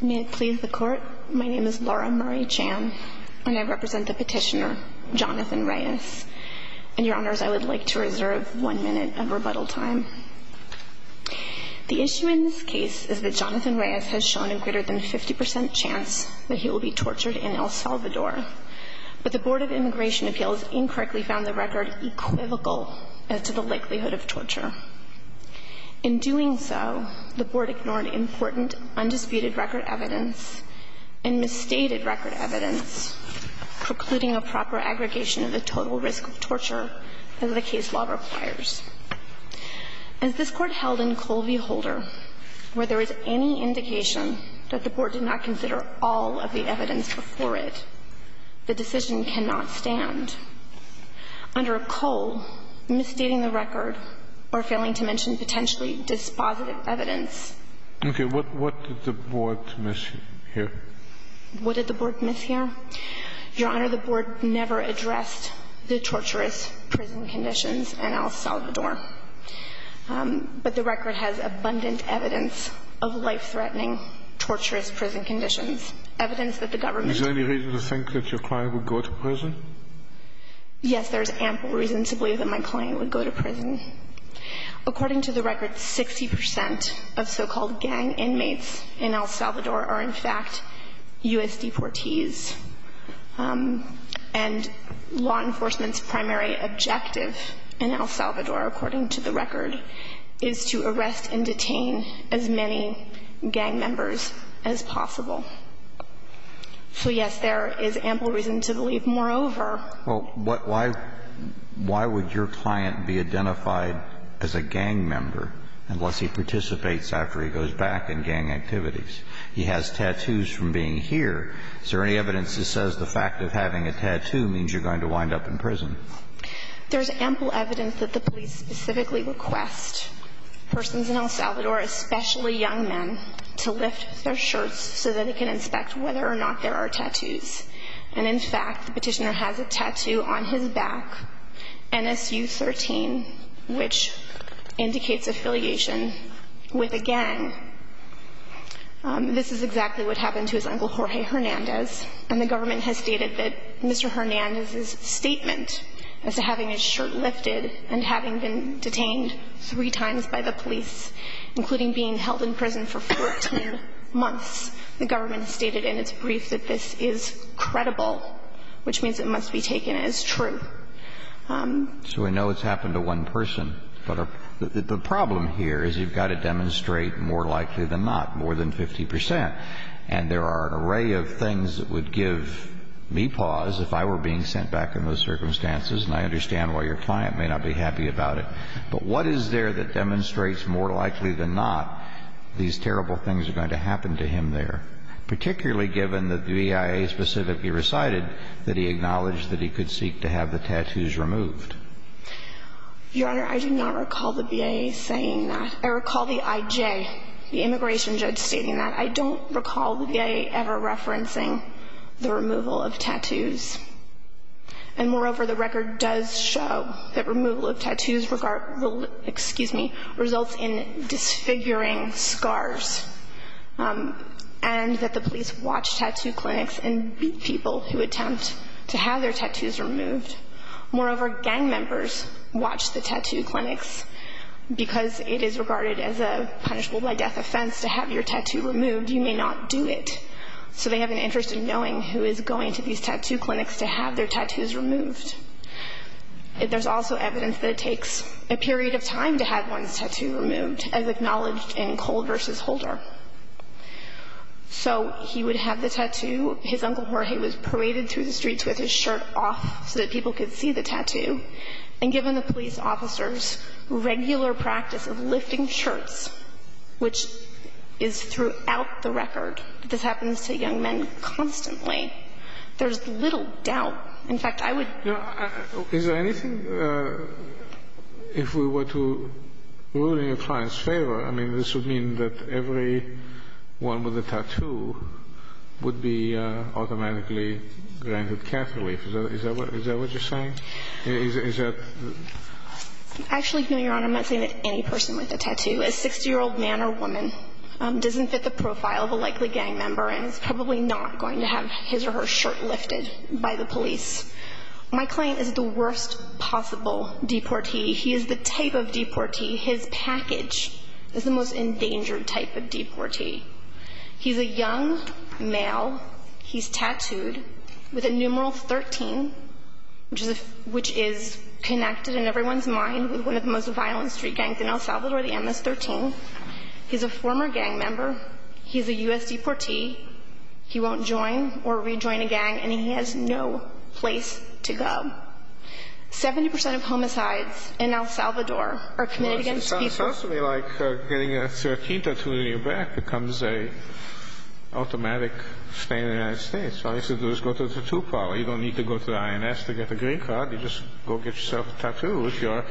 May it please the Court, my name is Laura Murray Chan, and I represent the petitioner Jonathan Reyes. And, Your Honors, I would like to reserve one minute of rebuttal time. The issue in this case is that Jonathan Reyes has shown a greater than 50% chance that he will be tortured in El Salvador, but the Board of Immigration Appeals incorrectly found the record equivocal as to the likelihood of torture. In doing so, the Board ignored important undisputed record evidence and misstated record evidence, precluding a proper aggregation of the total risk of torture as the case law requires. As this Court held in Cole v. Holder, where there is any indication that the Board did not consider all of the evidence before it, the decision cannot stand. Under Cole, misstating the record or failing to mention potentially dispositive evidence. Okay. What did the Board miss here? What did the Board miss here? Your Honor, the Board never addressed the torturous prison conditions in El Salvador. But the record has abundant evidence of life-threatening torturous prison conditions, evidence that the government Is there any reason to think that your client would go to prison? Yes, there is ample reason to believe that my client would go to prison. According to the record, 60% of so-called gang inmates in El Salvador are in fact U.S. deportees. And law enforcement's primary objective in El Salvador, according to the record, is to arrest and detain as many gang members as possible. So, yes, there is ample reason to believe. Moreover, Well, why would your client be identified as a gang member unless he participates after he goes back in gang activities? He has tattoos from being here. Is there any evidence that says the fact of having a tattoo means you're going to wind up in prison? There's ample evidence that the police specifically request persons in El Salvador, especially young men, to lift their shirts so that they can inspect whether or not there are tattoos. And, in fact, the petitioner has a tattoo on his back, NSU 13, which indicates affiliation with a gang. This is exactly what happened to his uncle, Jorge Hernandez, and the government has stated that Mr. Hernandez's statement as to having his shirt lifted and having been detained three times by the police, including being held in prison for 14 months, the government stated in its brief that this is credible, which means it must be taken as true. So we know it's happened to one person. But the problem here is you've got to demonstrate more likely than not, more than 50 percent. And there are an array of things that would give me pause if I were being sent back in those circumstances. And I understand why your client may not be happy about it. But what is there that demonstrates more likely than not these terrible things are going to happen to him there, particularly given that the BIA specifically recited that he acknowledged that he could seek to have the tattoos removed? Your Honor, I do not recall the BIA saying that. I recall the IJ, the immigration judge, stating that. I don't recall the BIA ever referencing the removal of tattoos. And moreover, the record does show that removal of tattoos results in disfiguring scars and that the police watch tattoo clinics and beat people who attempt to have their tattoos removed. Moreover, gang members watch the tattoo clinics. Because it is regarded as a punishable-by-death offense to have your tattoo removed, you may not do it. So they have an interest in knowing who is going to these tattoo clinics to have their tattoos removed. There's also evidence that it takes a period of time to have one's tattoo removed, as acknowledged in Cole v. Holder. So he would have the tattoo. His Uncle Jorge was paraded through the streets with his shirt off so that people could see the tattoo. And given the police officers' regular practice of lifting shirts, which is throughout the record, that this happens to young men constantly, there's little doubt. In fact, I would – Is there anything – if we were to rule in a client's favor, I mean, this would mean that every one with a tattoo would be automatically granted catholic. Is that what you're saying? Is that – Actually, no, Your Honor, I'm not saying that any person with a tattoo, a 60-year-old man or woman, doesn't fit the profile of a likely gang member and is probably not going to have his or her shirt lifted by the police. My client is the worst possible deportee. He is the type of deportee – his package is the most endangered type of deportee. He's a young male. He's tattooed with a numeral 13, which is connected in everyone's mind with one of the most violent street gangs in El Salvador, the MS-13. He's a former gang member. He's a U.S. deportee. He won't join or rejoin a gang, and he has no place to go. Seventy percent of homicides in El Salvador are committed against people. It sounds to me like getting a 13 tattoo on your back becomes an automatic thing in the United States. All you have to do is go to the tattoo parlor. You don't need to go to the INS to get a green card. You just go get yourself a tattoo if you're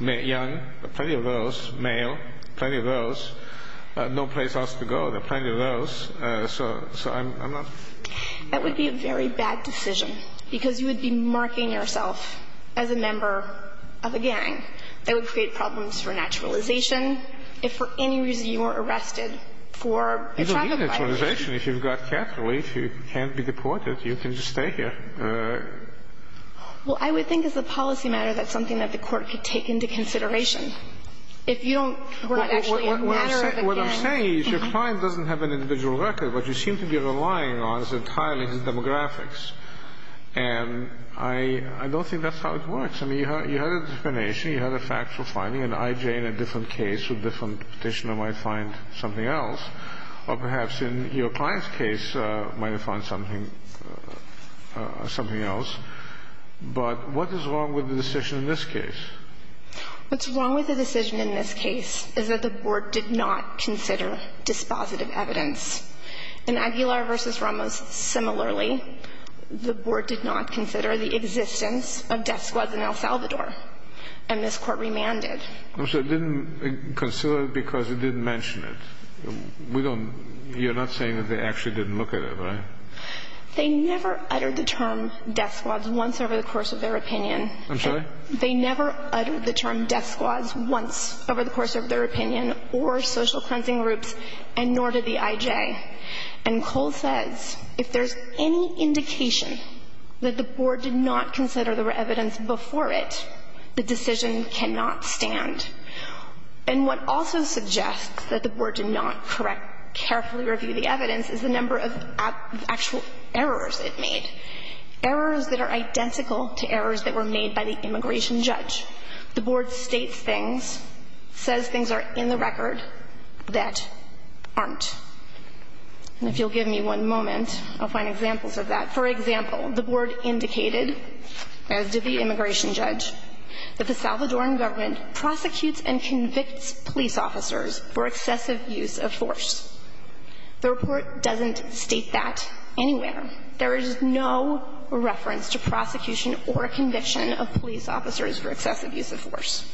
young. There are plenty of girls, male, plenty of girls. No place else to go. There are plenty of girls, so I'm not – That would be a very bad decision because you would be marking yourself as a member of a gang. That would create problems for naturalization. If for any reason you were arrested for a traffic violation. You don't need naturalization. If you've got cattle, if you can't be deported, you can just stay here. Well, I would think as a policy matter that's something that the court could take into consideration. If you don't – What I'm saying is your client doesn't have an individual record. What you seem to be relying on is entirely his demographics. And I don't think that's how it works. I mean, you had a determination. You had a factual finding. And I, Jay, in a different case with a different petitioner might find something else. Or perhaps in your client's case might have found something else. But what is wrong with the decision in this case? What's wrong with the decision in this case is that the board did not consider dispositive evidence. In Aguilar v. Ramos, similarly, the board did not consider the existence of death squads in El Salvador. And this court remanded. So it didn't consider it because it didn't mention it. We don't – you're not saying that they actually didn't look at it, right? They never uttered the term death squads once over the course of their opinion. I'm sorry? They never uttered the term death squads once over the course of their opinion or social cleansing groups, and nor did the IJ. And Cole says if there's any indication that the board did not consider there were evidence before it, the decision cannot stand. And what also suggests that the board did not carefully review the evidence is the number of actual errors it made, errors that are identical to errors that were made by the immigration judge. The board states things, says things are in the record that aren't. And if you'll give me one moment, I'll find examples of that. For example, the board indicated, as did the immigration judge, that the Salvadoran government prosecutes and convicts police officers for excessive use of force. The report doesn't state that anywhere. There is no reference to prosecution or conviction of police officers for excessive use of force.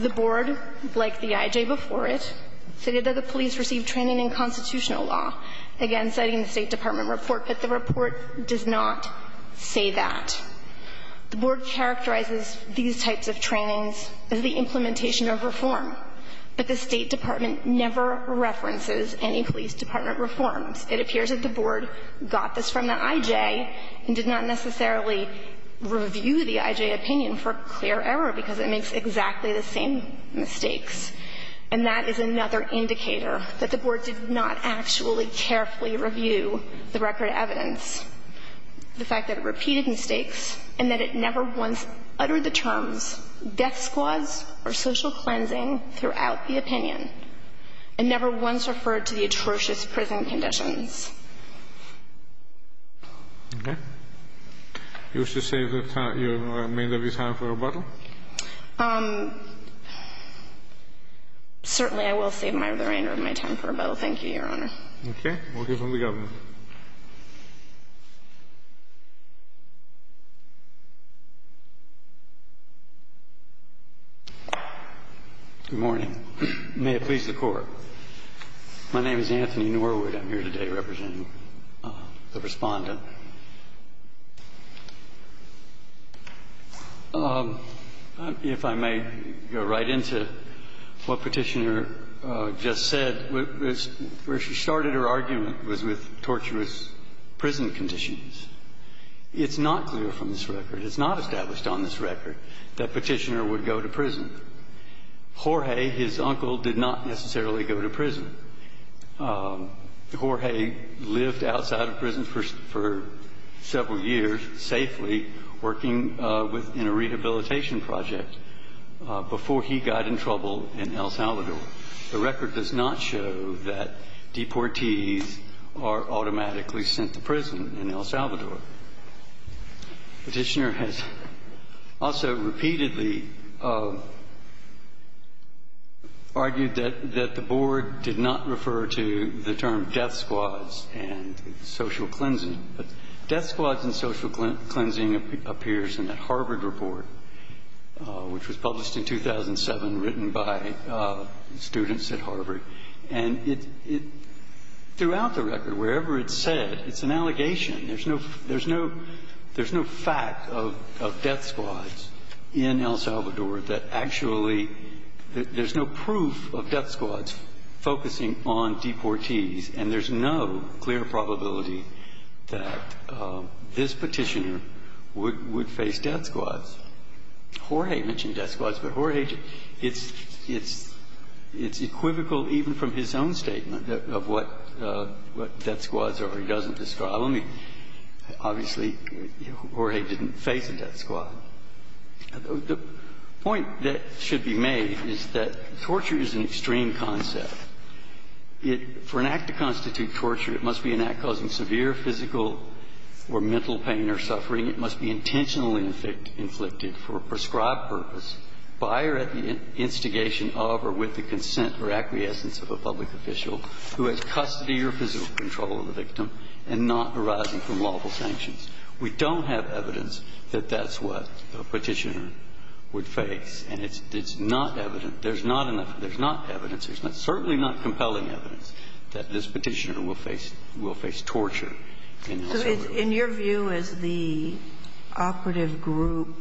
The board, like the IJ before it, stated that the police received training in constitutional law, again citing the State Department report, but the report does not say that. The board characterizes these types of trainings as the implementation of reform, but the State Department never references any police department reforms. It appears that the board got this from the IJ and did not necessarily review the IJ opinion for clear error because it makes exactly the same mistakes. And that is another indicator, that the board did not actually carefully review the record of evidence, the fact that it repeated mistakes and that it never once uttered the terms death squads or social cleansing throughout the opinion and never once referred to the atrocious prison conditions. Okay. You wish to save the remainder of your time for rebuttal? Certainly I will save the remainder of my time for rebuttal. Thank you, Your Honor. Okay. We'll give it to the Governor. Good morning. May it please the Court. My name is Anthony Norwood. I'm here today representing the Respondent. If I may go right into what Petitioner just said. Where she started her argument was with torturous prison conditions. It's not clear from this record, it's not established on this record, that Petitioner would go to prison. Jorge, his uncle, did not necessarily go to prison. Jorge lived outside of prison for several years, safely, working in a rehabilitation project before he got in trouble in El Salvador. The record does not show that deportees are automatically sent to prison in El Salvador. Petitioner has also repeatedly argued that the Board did not refer to the term death squads and social cleansing. But death squads and social cleansing appears in that Harvard report, which was published in 2007, written by students at Harvard. And throughout the record, wherever it's said, it's an allegation. There's no fact of death squads in El Salvador that actually, there's no proof of death squads focusing on deportees, and there's no clear probability that this Petitioner would face death squads. Jorge mentioned death squads, but Jorge, it's equivocal even from his own statement of what death squads are. He doesn't describe them. Obviously, Jorge didn't face a death squad. The point that should be made is that torture is an extreme concept. For an act to constitute torture, it must be an act causing severe physical or mental pain or suffering. It must be intentionally inflicted for a prescribed purpose by or at the instigation of or with the consent or acquiescence of a public official who has custody or physical control of the victim and not arising from lawful sanctions. We don't have evidence that that's what a Petitioner would face, and it's not evident. There's not enough – there's not evidence. There's certainly not compelling evidence that this Petitioner will face torture in El Salvador. So in your view, is the operative group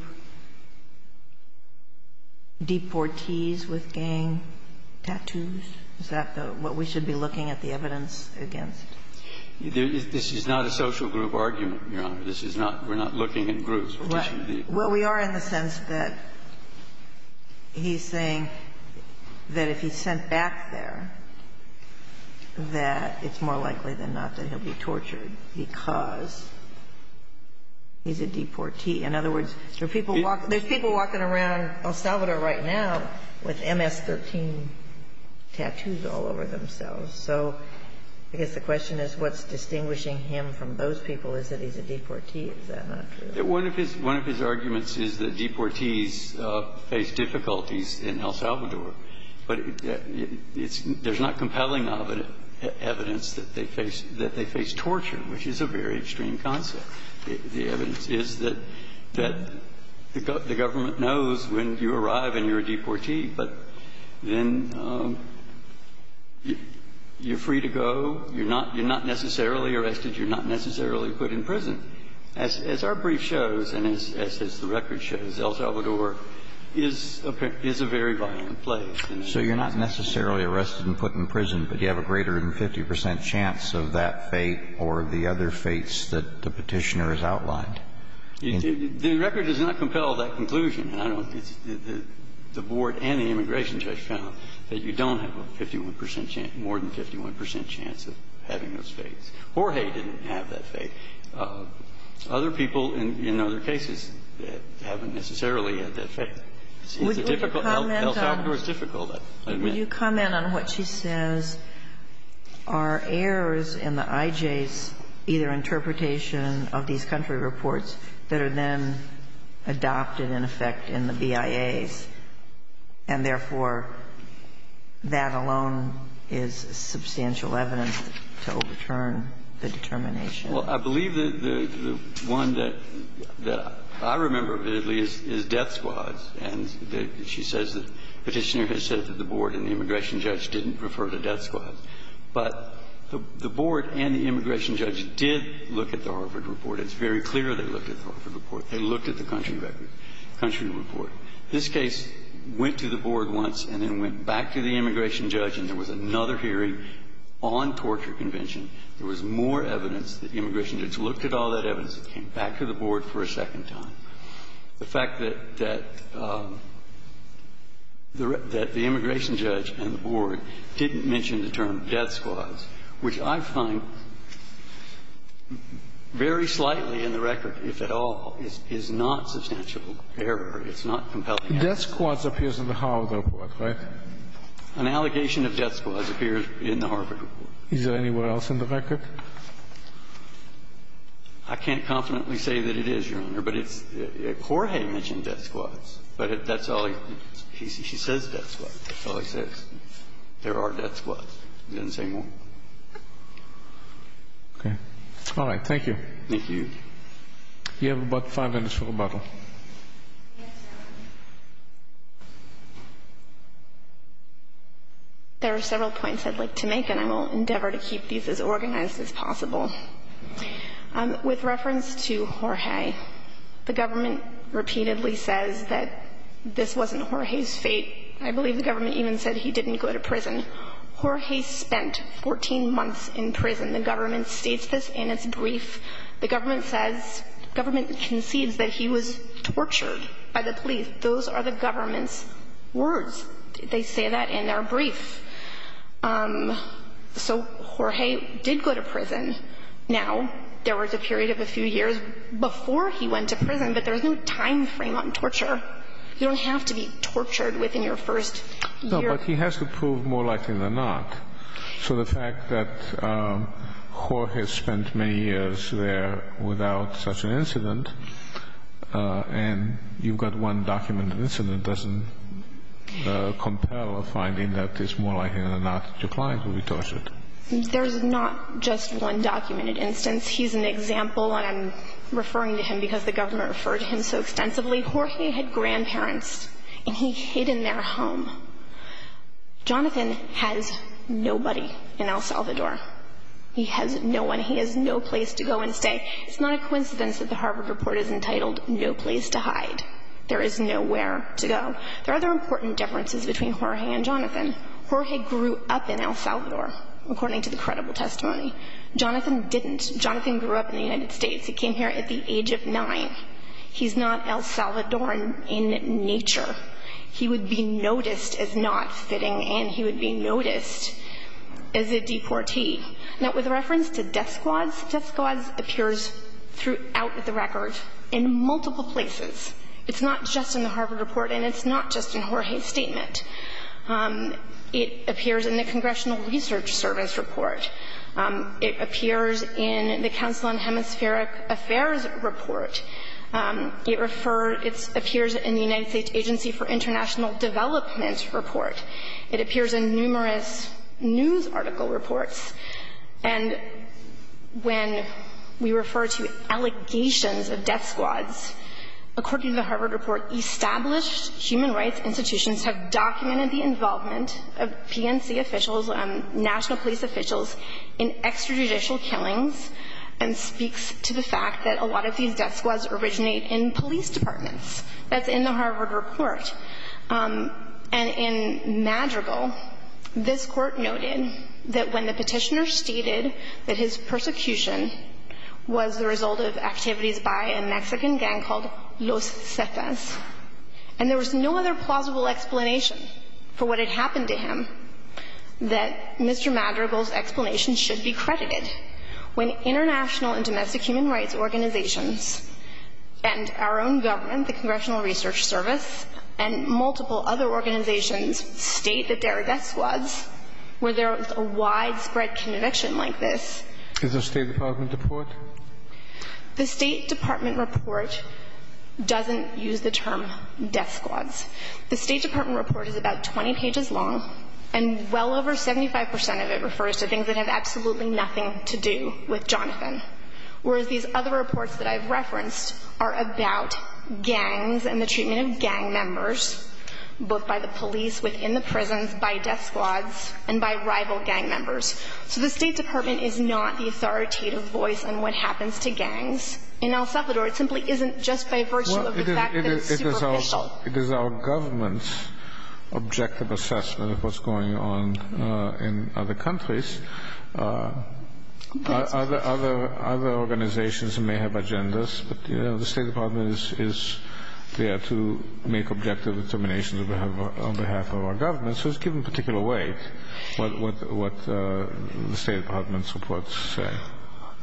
deportees with gang tattoos? Is that the – what we should be looking at the evidence against? This is not a social group argument, Your Honor. This is not – we're not looking at groups. We're looking at the groups. Well, we are in the sense that he's saying that if he's sent back there, that it's more likely than not that he'll be tortured because he's a deportee. In other words, there are people walking – there's people walking around El Salvador right now with MS-13 tattoos all over themselves. So I guess the question is, what's distinguishing him from those people? Is it he's a deportee? Is that not true? One of his – one of his arguments is that deportees face difficulties in El Salvador. But it's – there's not compelling evidence that they face – that they face torture, which is a very extreme concept. The evidence is that the government knows when you arrive and you're a deportee, but then you're free to go. You're not – you're not necessarily arrested. You're not necessarily put in prison. As our brief shows and as the record shows, El Salvador is a very violent place. So you're not necessarily arrested and put in prison, but you have a greater than 50 The record does not compel that conclusion. I don't – the board and the immigration judge found that you don't have a 51 percent chance – more than 51 percent chance of having those fates. Jorge didn't have that fate. Other people in other cases haven't necessarily had that fate. It's a difficult – El Salvador is difficult. I mean – Do you comment on what she says? Are errors in the IJ's either interpretation of these country reports that are then adopted in effect in the BIA's, and therefore that alone is substantial evidence to overturn the determination? Well, I believe that the one that I remember vividly is death squads. And she says that the petitioner has said that the board and the immigration judge didn't refer to death squads. But the board and the immigration judge did look at the Harvard report. It's very clear they looked at the Harvard report. They looked at the country record – country report. This case went to the board once and then went back to the immigration judge, and there was another hearing on torture convention. There was more evidence. The immigration judge looked at all that evidence. It came back to the board for a second time. The fact that – that the immigration judge and the board didn't mention the term death squads, which I find very slightly in the record, if at all, is not substantial error. It's not compelling evidence. Death squads appears in the Harvard report, right? An allegation of death squads appears in the Harvard report. Is there anywhere else in the record? I can't confidently say that it is, Your Honor. But it's – Jorge mentioned death squads. But that's all he – she says death squads. That's all he says. There are death squads. He doesn't say more. Okay. All right. Thank you. Thank you. You have about five minutes for rebuttal. There are several points I'd like to make, and I will endeavor to keep these as organized as possible. With reference to Jorge, the government repeatedly says that this wasn't Jorge's fate. I believe the government even said he didn't go to prison. Jorge spent 14 months in prison. The government states this in its brief. The government says – government concedes that he was tortured by the police. Those are the government's words. They say that in their brief. So Jorge did go to prison. Now, there was a period of a few years before he went to prison, but there's no time frame on torture. You don't have to be tortured within your first year. No, but he has to prove more likely than not. So the fact that Jorge spent many years there without such an incident, and you've got one document, an incident doesn't compel a finding that it's more likely than not that your client will be tortured. There's not just one documented instance. He's an example, and I'm referring to him because the government referred to him so extensively. Jorge had grandparents, and he hid in their home. Jonathan has nobody in El Salvador. He has no one. He has no place to go and stay. It's not a coincidence that the Harvard report is entitled No Place to Hide. There is nowhere to go. There are other important differences between Jorge and Jonathan. Jorge grew up in El Salvador, according to the credible testimony. Jonathan didn't. Jonathan grew up in the United States. He came here at the age of 9. He's not El Salvadoran in nature. He would be noticed as not fitting, and he would be noticed as a deportee. Now, with reference to death squads, death squads appears throughout the record in multiple places. It's not just in the Harvard report, and it's not just in Jorge's statement. It appears in the Congressional Research Service report. It appears in the Council on Hemispheric Affairs report. It refers to the United States Agency for International Development report. It appears in numerous news article reports. And when we refer to allegations of death squads, according to the Harvard report, established human rights institutions have documented the involvement of PNC officials and national police officials in extrajudicial killings, and speaks to the fact that a lot of these death squads originate in police departments. That's in the Harvard report. And in Madrigal, this Court noted that when the petitioner stated that his persecution was the result of activities by a Mexican gang called Los Cetas, and there was no other plausible explanation for what had happened to him, that Mr. Madrigal's explanation should be credited. When international and domestic human rights organizations and our own government, the Congressional Research Service, and multiple other organizations state that there are death squads, where there is a widespread conviction like this. Is there a State Department report? The State Department report doesn't use the term death squads. The State Department report is about 20 pages long, and well over 75 percent of it refers to things that have absolutely nothing to do with Jonathan, whereas these other reports that I've referenced are about gangs and the treatment of gang members, both by the police within the prisons, by death squads, and by rival gang members. So the State Department is not the authoritative voice on what happens to gangs in El Salvador. It simply isn't, just by virtue of the fact that it's superficial. It is our government's objective assessment of what's going on in other countries. Other organizations may have agendas, but the State Department is there to make objective determinations on behalf of our government. So it's given particular weight, what the State Department's reports say.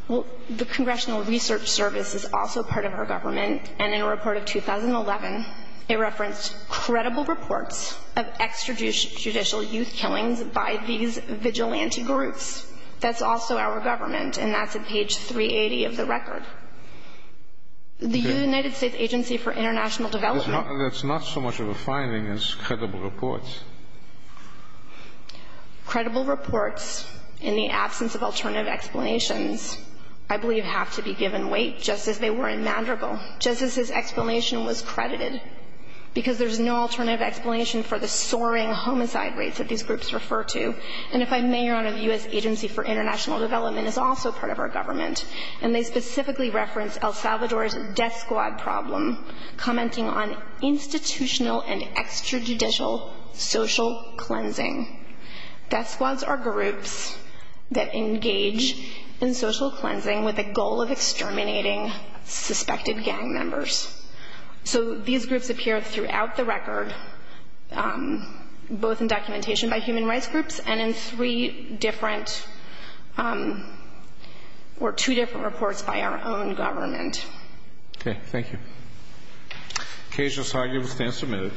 Well, the Congressional Research Service is also part of our government, and in a report of 2011, it referenced credible reports of extrajudicial youth killings by these vigilante groups. That's also our government, and that's at page 380 of the record. The United States Agency for International Development... That's not so much of a finding as credible reports. Credible reports, in the absence of alternative explanations, I believe have to be given weight, just as they were in Mandarinville, just as his explanation was credited, because there's no alternative explanation for the soaring homicide rates that these groups refer to. And if I may, Your Honor, the U.S. Agency for International Development is also part of our government, and they specifically reference El Salvador's death squad problem, commenting on institutional and extrajudicial social cleansing. Death squads are groups that engage in social cleansing with the goal of exterminating suspected gang members. So these groups appear throughout the record, both in documentation by human rights groups and in three different or two different reports by our own government. Okay. Thank you. Case, this argument stands submitted.